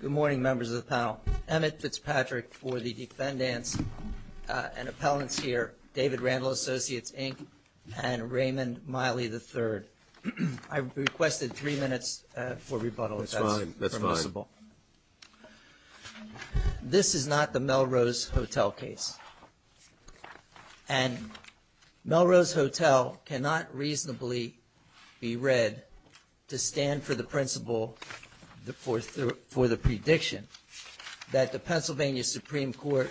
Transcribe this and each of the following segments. Good morning, members of the panel. Emmett Fitzpatrick for the defendants and appellants here, David Randall Associates, Inc., and Raymond Miley III. I've requested three minutes for rebuttal, if that's permissible. This is not the Melrose Hotel case. And Melrose Hotel cannot reasonably be read to stand for the principle for the prediction that the Pennsylvania Supreme Court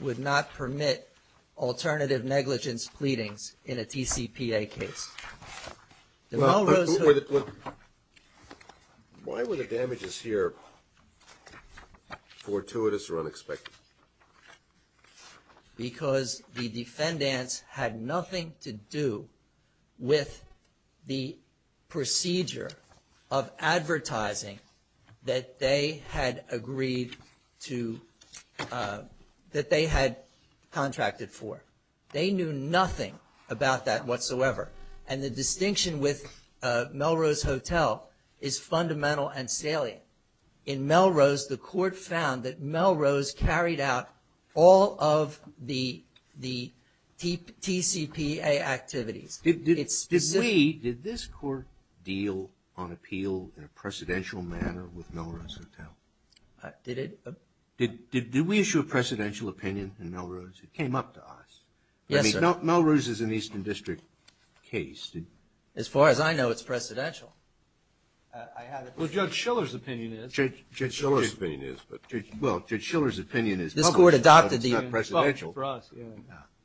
would not permit alternative negligence pleadings in a TCPA case. The Melrose Hotel Well, why were the damages here fortuitous or unexpected? Because the defendants had nothing to do with the procedure of advertising that they had agreed to, that they had contracted for. They knew nothing about that whatsoever. And the distinction with and salient. In Melrose, the court found that Melrose carried out all of the TCPA activities. Did we, did this court deal on appeal in a precedential manner with Melrose Hotel? Did it? Did we issue a precedential opinion in Melrose? It came up to us. Yes, sir. I mean, Melrose is an Eastern District case. As far as I know, it's precedential. Well, Judge Schiller's opinion is. Judge Schiller's opinion is. Well, Judge Schiller's opinion is public, but it's not precedential.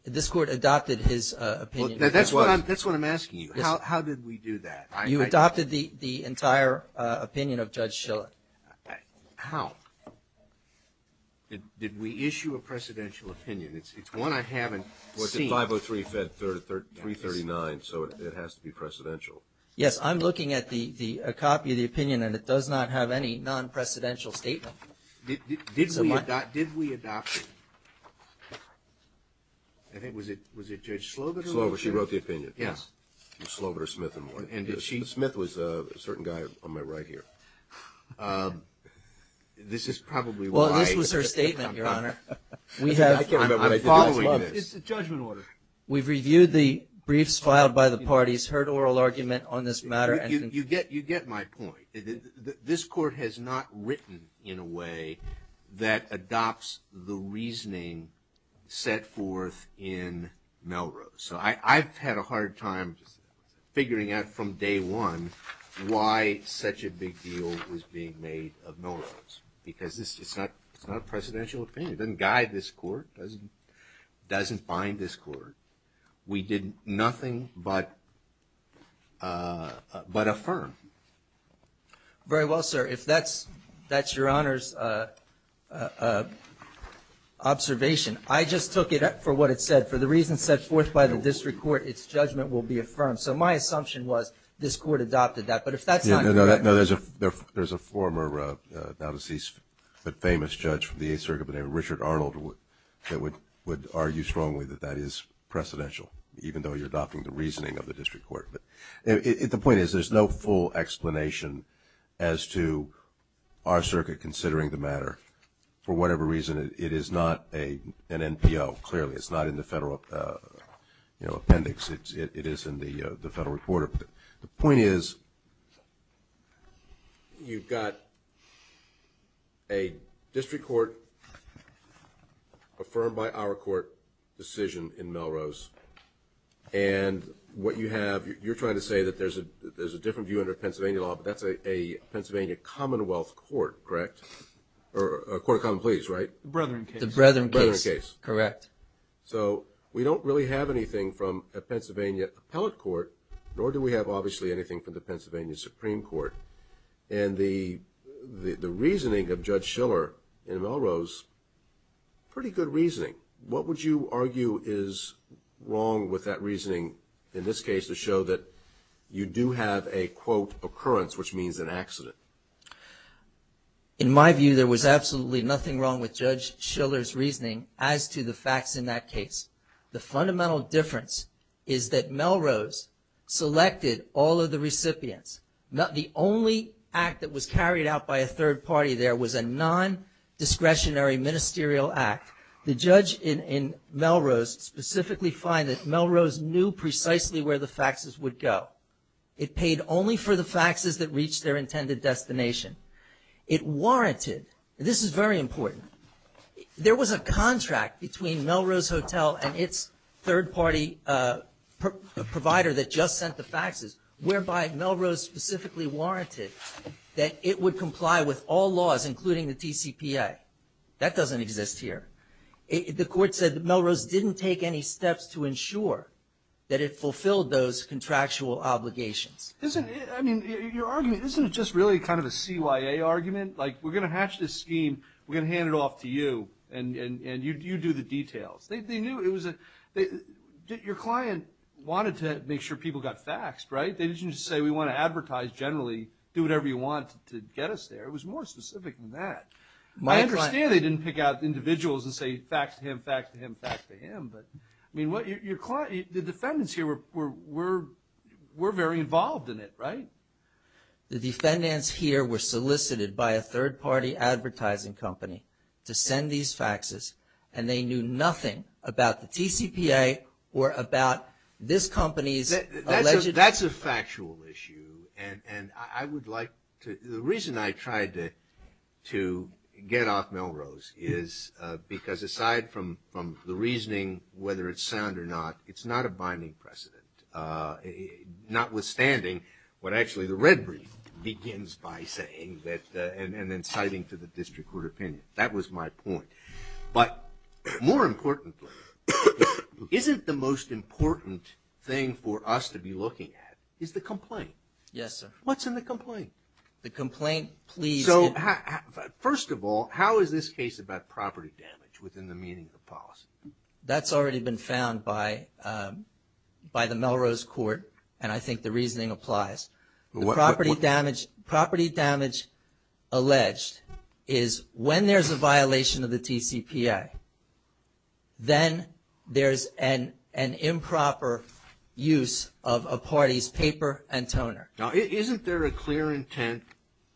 This court adopted his opinion. That's what I'm asking you. How did we do that? You adopted the entire opinion of Judge Schiller. How? Did we issue a precedential opinion? It's one I haven't seen. It was a 503 Fed 339, so it has to be precedential. Yes, I'm looking at a copy of the opinion, and it does not have any non-precedential statement. Did we adopt it? I think, was it Judge Slover? She wrote the opinion. Yes. Slover, Smith, and Warren. Smith was a certain guy on my right here. This is probably why. Well, this was her statement, Your Honor. It's a judgment order. We've reviewed the briefs filed by the parties, heard oral argument on this matter. You get my point. This court has not written in a way that adopts the reasoning set forth in Melrose. So I've had a hard time figuring out from day one why such a big deal was being made of Melrose, because it's not a precedential opinion. It doesn't guide this court. It doesn't bind this court. We did nothing but affirm. Very well, sir. If that's Your Honor's observation. I just took it for what it said. For the reasons set forth by the district court, its judgment will be affirmed. So my assumption was this court adopted that. But if that's not correct. There's a former, now deceased, but famous judge from the Eighth Circuit by the name of Richard Arnold that would argue strongly that that is precedential, even though you're adopting the reasoning of the district court. The point is there's no full explanation as to our circuit considering the matter. For whatever reason, it is not an NPO, clearly. It's not in the federal appendix. It is in the federal report. The point is you've got a district court affirmed by our court decision in Melrose. And what you have, you're trying to say that there's a different view under Pennsylvania law, but that's a Pennsylvania Commonwealth Court, correct? Or a court of common pleas, right? The Brethren case. The Brethren case, correct. So we don't really have anything from a Pennsylvania appellate court, nor do we have, obviously, anything from the Pennsylvania Supreme Court. And the reasoning of Judge Schiller in Melrose, pretty good reasoning. What would you argue is wrong with that reasoning, in this case, to show that you do have a, quote, occurrence, which means an accident? In my view, there was absolutely nothing wrong with Judge Schiller's reasoning as to the facts in that case. The fundamental difference is that Melrose selected all of the recipients. The only act that was carried out by a third party there was a non-discretionary ministerial act. The judge in Melrose specifically find that Melrose knew precisely where the faxes would go. It paid only for the faxes that reached their intended destination. It warranted, and this is very important, there was a contract between Melrose Hotel and its third party provider that just sent the faxes, whereby Melrose specifically warranted that it would comply with all laws, including the TCPA. That doesn't exist here. The court said that Melrose didn't take any steps to ensure that it fulfilled those contractual obligations. I mean, your argument, isn't it just really kind of a CYA argument? We're going to hatch this scheme. We're going to hand it off to you, and you do the details. Your client wanted to make sure people got faxed, right? They didn't just say, we want to advertise generally, do whatever you want to get us there. It was more specific than that. I understand they didn't pick out individuals and say fax to him, fax to him, fax to him, but the defendants here were very involved in it, right? The defendants here were solicited by a third party advertising company to send these faxes, and they knew nothing about the TCPA or about this company's alleged... That's a factual issue, and I would like to... The reason I tried to get off Melrose is because aside from the reasoning, whether it's sound or not, it's not a binding precedent. Notwithstanding, what actually the red brief begins by saying that, and then citing to the district court opinion. That was my point. But more importantly, isn't the most important thing for us to be looking at is the complaint? Yes, sir. What's in the complaint? The complaint, please... So, first of all, how is this case about property damage within the meaning of the policy? That's already been found by the Melrose court, and I think the reasoning applies. Property damage alleged is when there's a violation of the TCPA, then there's an improper use of a party's paper and toner. Now, isn't there a clear intent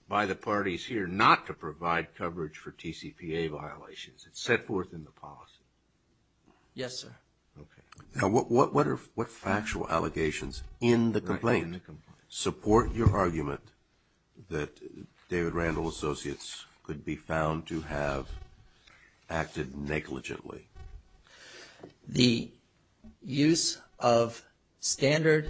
by the parties here not to provide coverage for TCPA violations? It's set forth in the policy. Yes, sir. Okay. Now, what factual allegations in the complaint support your argument that David Randall Associates could be found to have acted negligently? The use of standard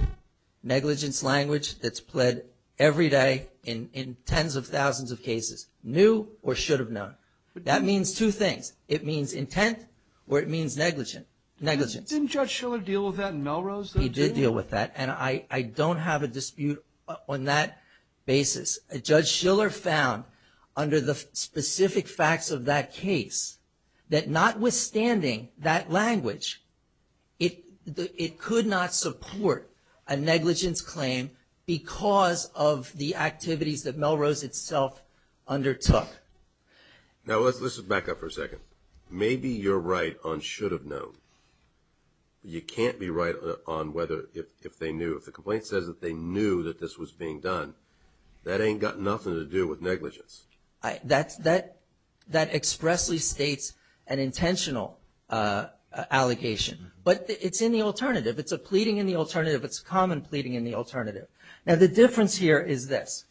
negligence language that's pled every day in tens of thousands of cases, new or should have known. That means two things. It means intent or it means negligence. Didn't Judge Schiller deal with that in Melrose? He did deal with that, and I don't have a dispute on that basis. Judge Schiller found under the specific facts of that case that notwithstanding that language, it could not support a negligence claim because of the activities that Melrose itself undertook. Now, let's back up for a second. Maybe you're right on should have known, but you can't be right on whether if they knew. If the complaint says that they knew that this was being done, that ain't got nothing to do with negligence. That expressly states an intentional allegation, but it's in the alternative. It's a pleading in the alternative. It's a common pleading in the alternative. Now, the difference here is this.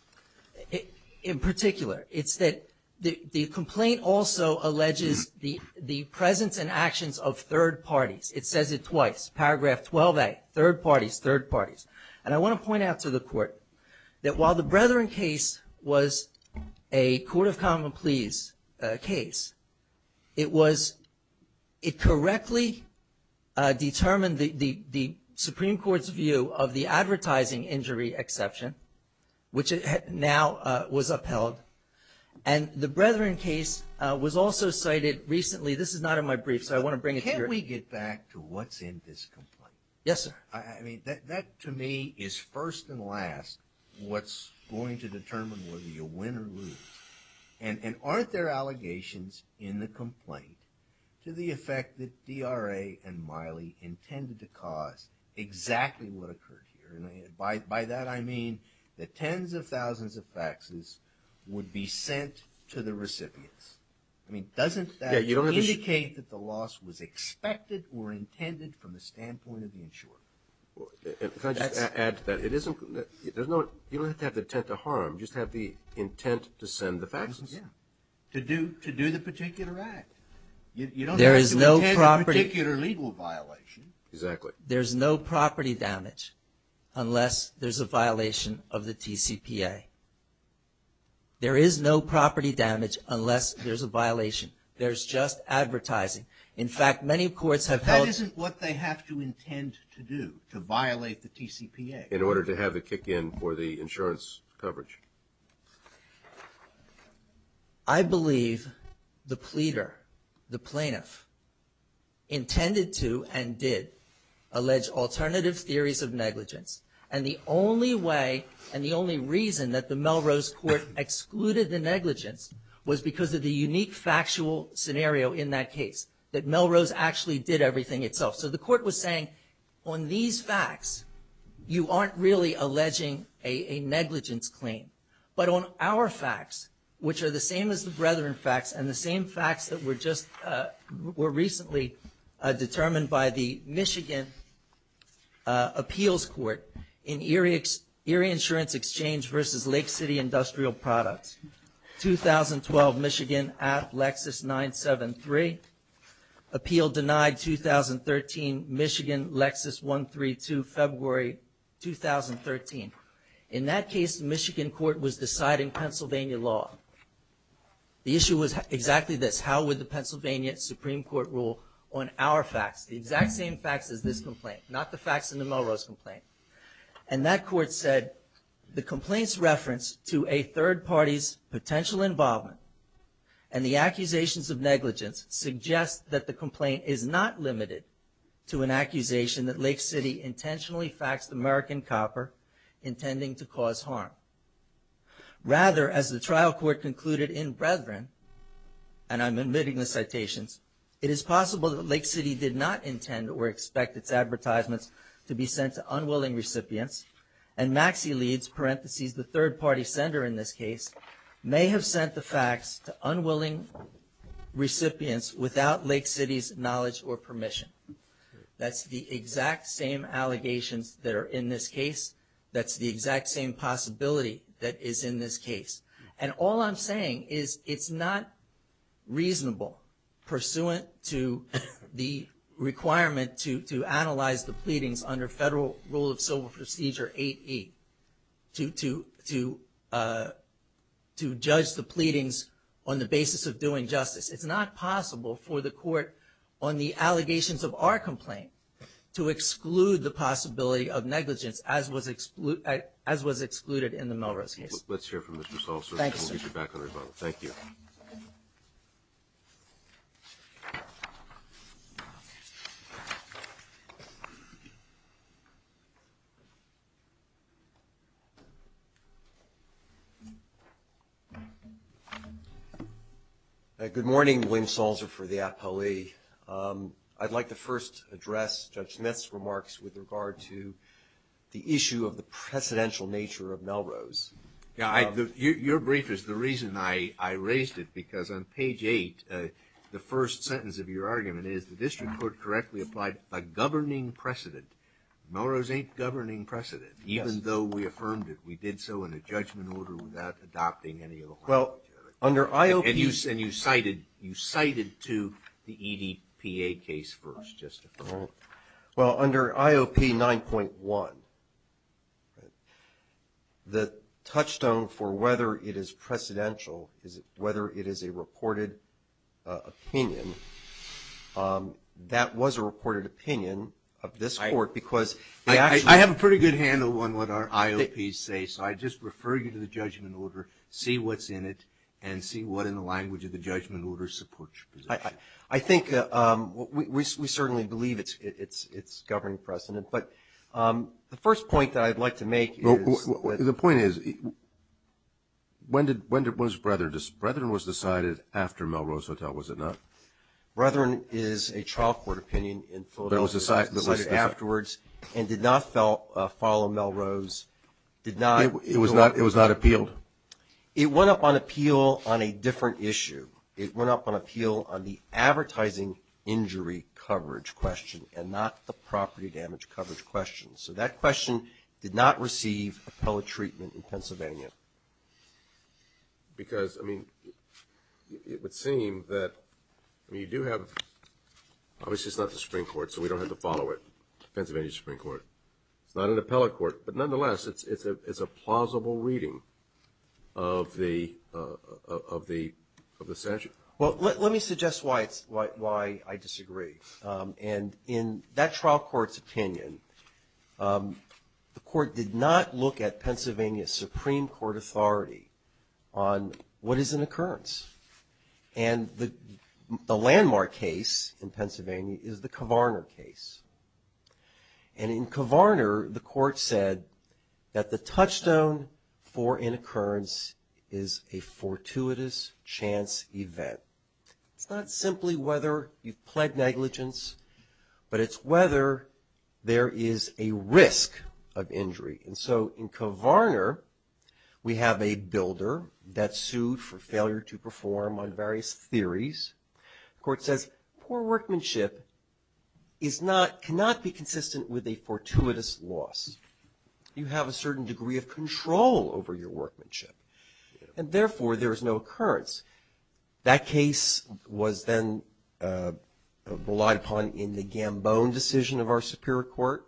In particular, it's that the complaint also alleges the presence and actions of third parties. It says it twice. Paragraph 12A, third parties, third parties. And I want to point out to the court that while the Brethren case was a court of common pleas case, it correctly determined the Supreme Court's view of the advertising injury exception, which now was upheld. And the Brethren case was also cited recently. This is not in my brief, so I want to bring it here. Can we get back to what's in this complaint? Yes, sir. I mean, that to me is first and last what's going to determine whether you win or lose. And aren't there allegations in the complaint to the effect that DRA and Miley intended to cause exactly what occurred here? By that, I mean the tens of thousands of faxes would be sent to the recipients. I mean, doesn't that indicate that the loss was expected or intended from the standpoint of the insurer? Can I just add to that? It isn't – there's no – you don't have to have the intent to harm. You just have the intent to send the faxes. Yeah. To do the particular act. There is no property – You don't have to intend a particular legal violation. Exactly. There's no property damage. Unless there's a violation of the TCPA. There is no property damage unless there's a violation. There's just advertising. In fact, many courts have held – That isn't what they have to intend to do to violate the TCPA. In order to have the kick in for the insurance coverage. I believe the pleader, the plaintiff, intended to and did allege alternative theories of negligence. And the only way and the only reason that the Melrose Court excluded the negligence was because of the unique factual scenario in that case. That Melrose actually did everything itself. So the court was saying, on these facts, you aren't really alleging a negligence claim. But on our facts, which are the same as the Brethren facts and the same facts that were recently determined by the Michigan Appeals Court in Erie Insurance Exchange versus Lake City Industrial Products, 2012, Michigan, at Lexus 973. Appeal denied 2013, Michigan, Lexus 132, February 2013. In that case, the Michigan court was deciding Pennsylvania law. The issue was exactly this. Supreme Court rule on our facts. The exact same facts as this complaint. Not the facts in the Melrose complaint. And that court said, the complaint's reference to a third party's potential involvement and the accusations of negligence suggest that the complaint is not limited to an accusation that Lake City intentionally faxed American Copper, intending to cause harm. Rather, as the trial court concluded in Brethren, and I'm admitting the citations, it is possible that Lake City did not intend or expect its advertisements to be sent to unwilling recipients. And Maxie Leeds, parentheses, the third party sender in this case, may have sent the facts to unwilling recipients without Lake City's knowledge or permission. That's the exact same allegations that are in this case. That's the exact same possibility that is in this case. And all I'm saying is it's not reasonable pursuant to the requirement to analyze the pleadings under Federal Rule of Civil Procedure 8E to judge the pleadings on the basis of doing justice. It's not possible for the court on the allegations of our complaint to exclude the possibility of negligence as was excluded in the Melrose case. Let's hear from Mr. Salzer and we'll get you back on rebuttal. Thank you. Good morning. William Salzer for the APALE. I'd like to first address Judge Smith's remarks with regard to the issue of the precedential nature of Melrose. Your brief is the reason I raised it, because on page 8, the first sentence of your argument is the district court correctly applied a governing precedent. Melrose ain't governing precedent, even though we affirmed it. We did so in a judgment order without adopting any of the requirements. Under IOP, and you cited to the EDPA case first. Well, under IOP 9.1, the touchstone for whether it is precedential, whether it is a reported opinion, that was a reported opinion of this court, because they actually I have a pretty good handle on what our IOPs say, so I just refer you to the judgment order, see what's in it, and see what in the language of the judgment order supports your position. I think we certainly believe it's governing precedent, but the first point that I'd like to make is The point is, when was Brethren? Brethren was decided after Melrose Hotel, was it not? Brethren is a trial court opinion in Philadelphia that was decided afterwards and did not follow Melrose, did not It was not appealed? It went up on appeal on a different issue. It went up on appeal on the advertising injury coverage question and not the property damage coverage question. So that question did not receive appellate treatment in Pennsylvania. Because, I mean, it would seem that you do have, obviously it's not the Supreme Court, so we don't have to follow it, Pennsylvania Supreme Court. It's not an appellate court. But nonetheless, it's a plausible reading of the statute. Well, let me suggest why I disagree. And in that trial court's opinion, the court did not look at Pennsylvania Supreme Court authority on what is an occurrence. And the landmark case in Pennsylvania is the Kovarner case. And in Kovarner, the court said that the touchstone for an occurrence is a fortuitous chance event. It's not simply whether you've pled negligence, but it's whether there is a risk of injury. And so in Kovarner, we have a builder that's sued for failure to perform on various theories. The court says poor workmanship cannot be consistent with a fortuitous loss. You have a certain degree of control over your workmanship. And therefore, there is no occurrence. That case was then relied upon in the Gambone decision of our Superior Court,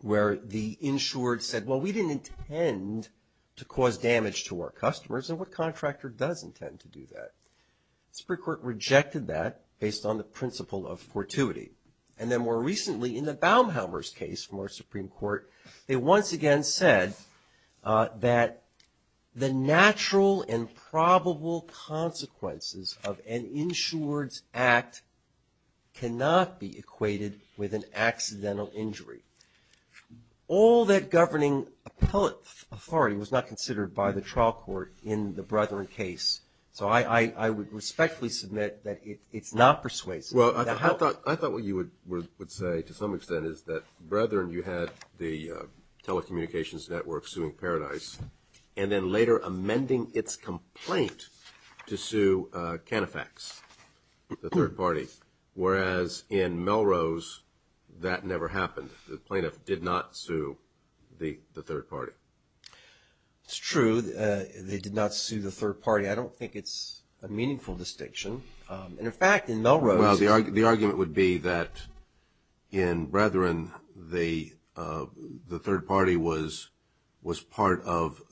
where the insured said, well, we didn't intend to cause damage to our customers. And what contractor does intend to do that? The Supreme Court rejected that based on the principle of fortuity. And then more recently, in the Baumhammer's case from our Supreme Court, they once again said that the natural and probable consequences of an insured's act cannot be equated with an accidental injury. All that governing appellate authority was not considered by the trial court in the Brethren case. So I would respectfully submit that it's not persuasive. Well, I thought what you would say, to some extent, is that Brethren, you had the telecommunications network suing Paradise, and then later amending its complaint to sue Canifax, the third party. Whereas in Melrose, that never happened. The plaintiff did not sue the third party. It's true. They did not sue the third party. I don't think it's a meaningful distinction. And in fact, in Melrose- Well, the argument would be that in Brethren, the third party was part of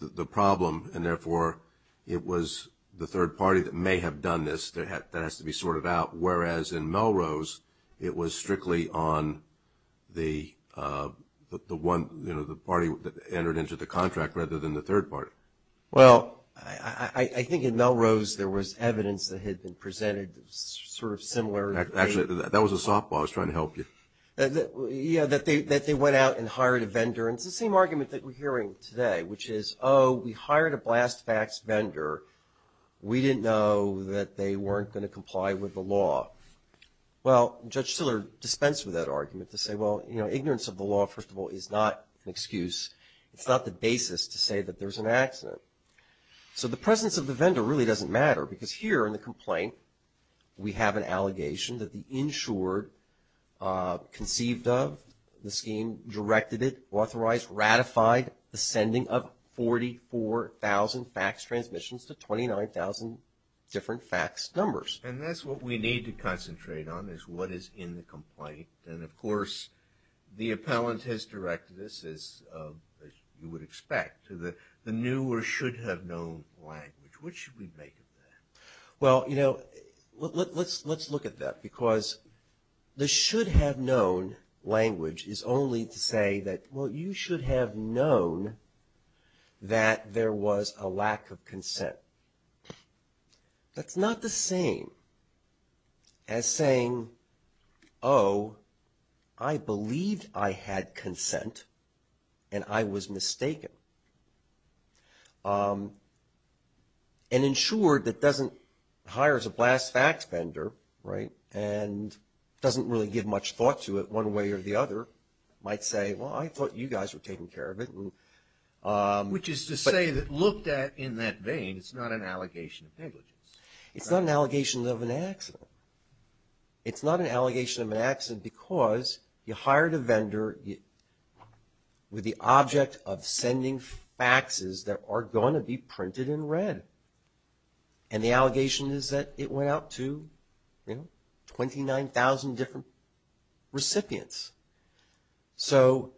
the problem. And therefore, it was the third party that may have done this. That has to be sorted out. Whereas in Melrose, it was strictly on the party that entered into the contract rather than the third party. Well, I think in Melrose, there was evidence that had been presented sort of similar- Actually, that was a softball. I was trying to help you. Yeah, that they went out and hired a vendor. And it's the same argument that we're hearing today, which is, oh, we hired a blast fax vendor. We didn't know that they weren't going to comply with the law. Well, Judge Stiller dispensed with that argument to say, well, ignorance of the law, first of all, is not an excuse. It's not the basis to say that there's an accident. So the presence of the vendor really doesn't matter. Because here in the complaint, we have an allegation that the insured conceived of the scheme, directed it, authorized, ratified the sending of 44,000 fax transmissions to 29,000 different fax numbers. And that's what we need to concentrate on is what is in the complaint. And of course, the appellant has directed this, as you would expect, to the new or should have known language. What should we make of that? Well, you know, let's look at that. Because the should have known language is only to say that, well, you should have known that there was a lack of consent. That's not the same as saying, oh, I believed I had consent and I was mistaken. An insured that doesn't, hires a blast fax vendor, right, and doesn't really give much thought to it one way or the other might say, well, I thought you guys were taking care of it. Which is to say that looked at in that vein, it's not an allegation of negligence. It's not an allegation of an accident. It's not an allegation of an accident because you hired a vendor with the object of sending faxes that are going to be printed in red. And the allegation is that it went out to, you know, 29,000 different recipients. So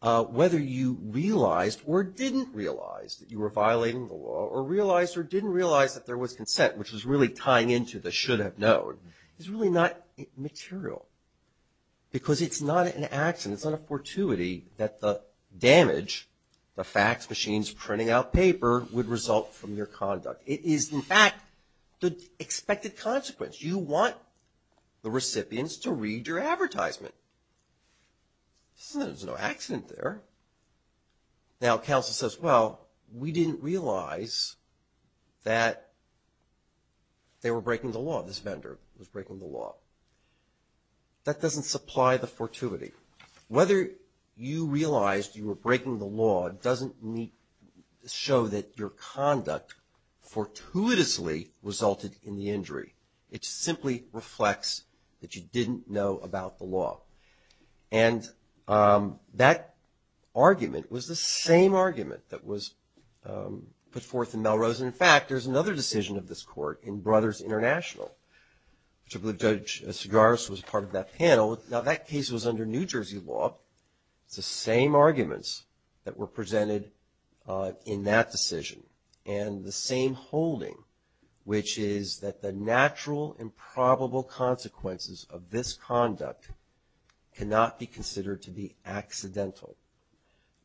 whether you realized or didn't realize that you were violating the law or realized or didn't realize that there was consent, which is really tying into the should have known, is really not material. Because it's not an accident, it's not a fortuity that the damage, the fax machines printing out paper would result from your conduct. It is, in fact, the expected consequence. You want the recipients to read your advertisement. So there's no accident there. Now counsel says, well, we didn't realize that they were breaking the law. This vendor was breaking the law. That doesn't supply the fortuity. Whether you realized you were breaking the law doesn't show that your conduct fortuitously resulted in the injury. It simply reflects that you didn't know about the law. And that argument was the same argument that was put forth in Melrose. In fact, there's another decision of this court in Brothers International, which I believe Judge Sigaris was part of that panel. Now that case was under New Jersey law. It's the same arguments that were presented in that decision. And the same holding, which is that the natural and probable consequences of this conduct cannot be considered to be accidental.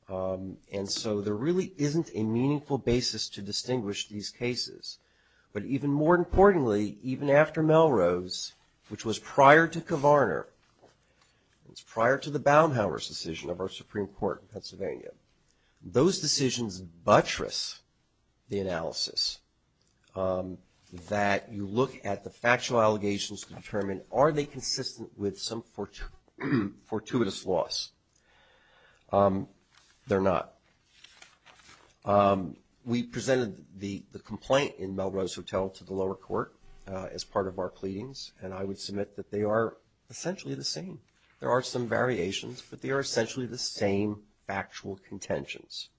And so there really isn't a meaningful basis to distinguish these cases. But even more importantly, even after Melrose, which was prior to Kovarner, it's prior to the Baumhauer's decision of our Supreme Court in Pennsylvania. Those decisions buttress the analysis that you look at the factual allegations to determine are they consistent with some fortuitous loss. They're not. We presented the complaint in Melrose Hotel to the lower court as part of our pleadings, and I would submit that they are essentially the same. There are some variations, but they are essentially the same factual contentions.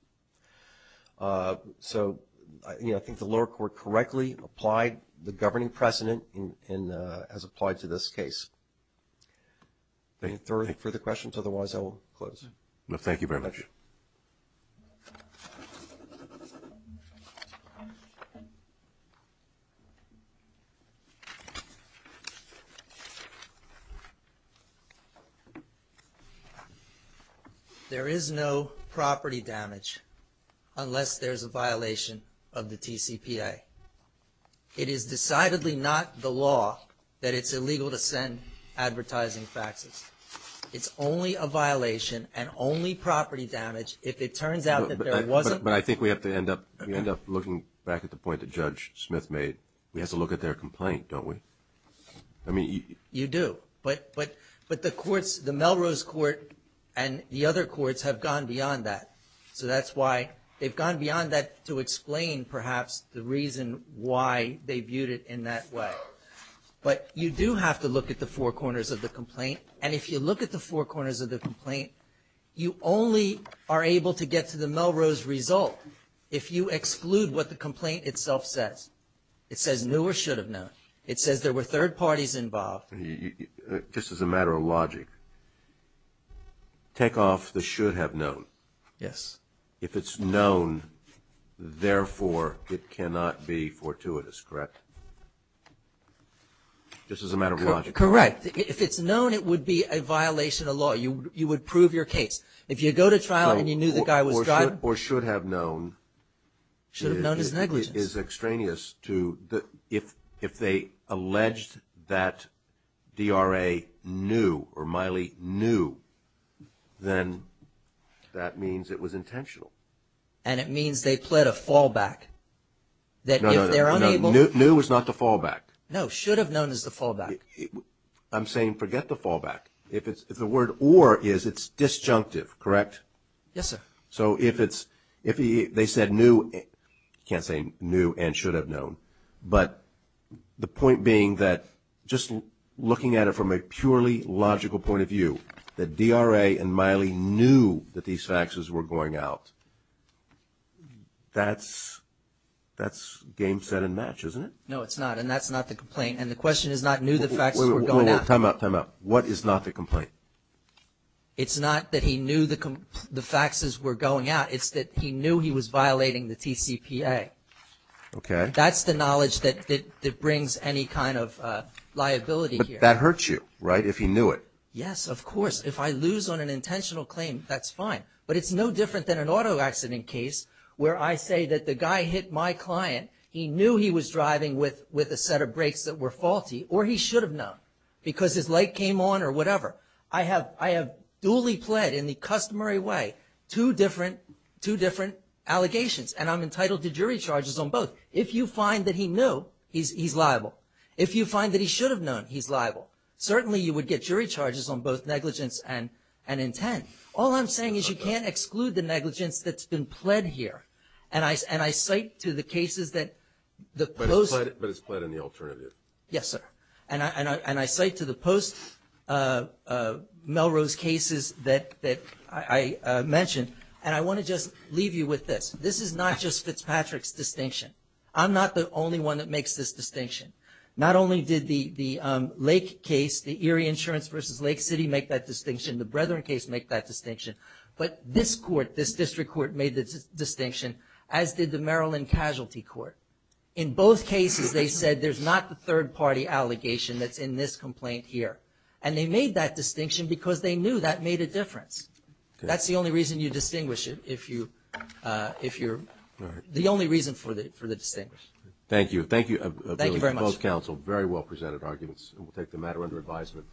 So I think the lower court correctly applied the governing precedent as applied to this case. Thank you for the questions. Otherwise, I will close. No, thank you very much. There is no property damage unless there's a violation of the TCPA. It is decidedly not the law that it's illegal to send advertising faxes. It's only a violation and only property damage if it turns out that there wasn't. But I think we have to end up looking back at the point that Judge Smith made. We have to look at their complaint, don't we? I mean, you do, but the courts, the Melrose court and the other courts have gone beyond that. So that's why they've gone beyond that to explain perhaps the reason why they viewed it in that way. But you do have to look at the four corners of the complaint. And if you look at the four corners of the complaint, you only are able to get to the Melrose result if you exclude what the complaint itself says. It says knew or should have known. It says there were third parties involved. Just as a matter of logic, take off the should have known. Yes. If it's known, therefore, it cannot be fortuitous, correct? Just as a matter of logic. Correct. If it's known, it would be a violation of law. You would prove your case. If you go to trial and you knew the guy was driving. Or should have known. Should have known as negligence. Is extraneous to if they alleged that DRA knew or Miley knew, then that means it was intentional. And it means they pled a fallback. That if they're unable. Knew was not the fallback. No, should have known as the fallback. I'm saying forget the fallback. If it's the word or is it's disjunctive, correct? Yes, sir. So if it's if they said new, you can't say new and should have known. But the point being that just looking at it from a purely logical point of view that DRA and Miley knew that these faxes were going out. That's that's game set and match, isn't it? No, it's not. And that's not the complaint. And the question is not new. The facts were going to come up. What is not the complaint? It's not that he knew the the faxes were going out. It's that he knew he was violating the TCPA. OK, that's the knowledge that that brings any kind of liability that hurts you, right? If he knew it. Yes, of course. If I lose on an intentional claim, that's fine. But it's no different than an auto accident case where I say that the guy hit my client. He knew he was driving with with a set of brakes that were faulty or he should have known because his light came on or whatever. I have duly pled in the customary way two different two different allegations. And I'm entitled to jury charges on both. If you find that he knew he's he's liable. If you find that he should have known he's liable. Certainly, you would get jury charges on both negligence and and intent. All I'm saying is you can't exclude the negligence that's been pled here. And I and I cite to the cases that the most. But it's pled in the alternative. Yes, sir. And I and I cite to the post Melrose cases that that I mentioned. And I want to just leave you with this. This is not just Fitzpatrick's distinction. I'm not the only one that makes this distinction. Not only did the the Lake case, the Erie Insurance versus Lake City make that distinction, the Brethren case make that distinction. But this court, this district court made the distinction, as did the Maryland Casualty Court. In both cases, they said there's not the third party allegation that's in this complaint here. And they made that distinction because they knew that made a difference. That's the only reason you distinguish it. If you if you're the only reason for the for the distinguished. Thank you. Thank you. Thank you very much, counsel. Very well presented arguments. And we'll take the matter under advisement.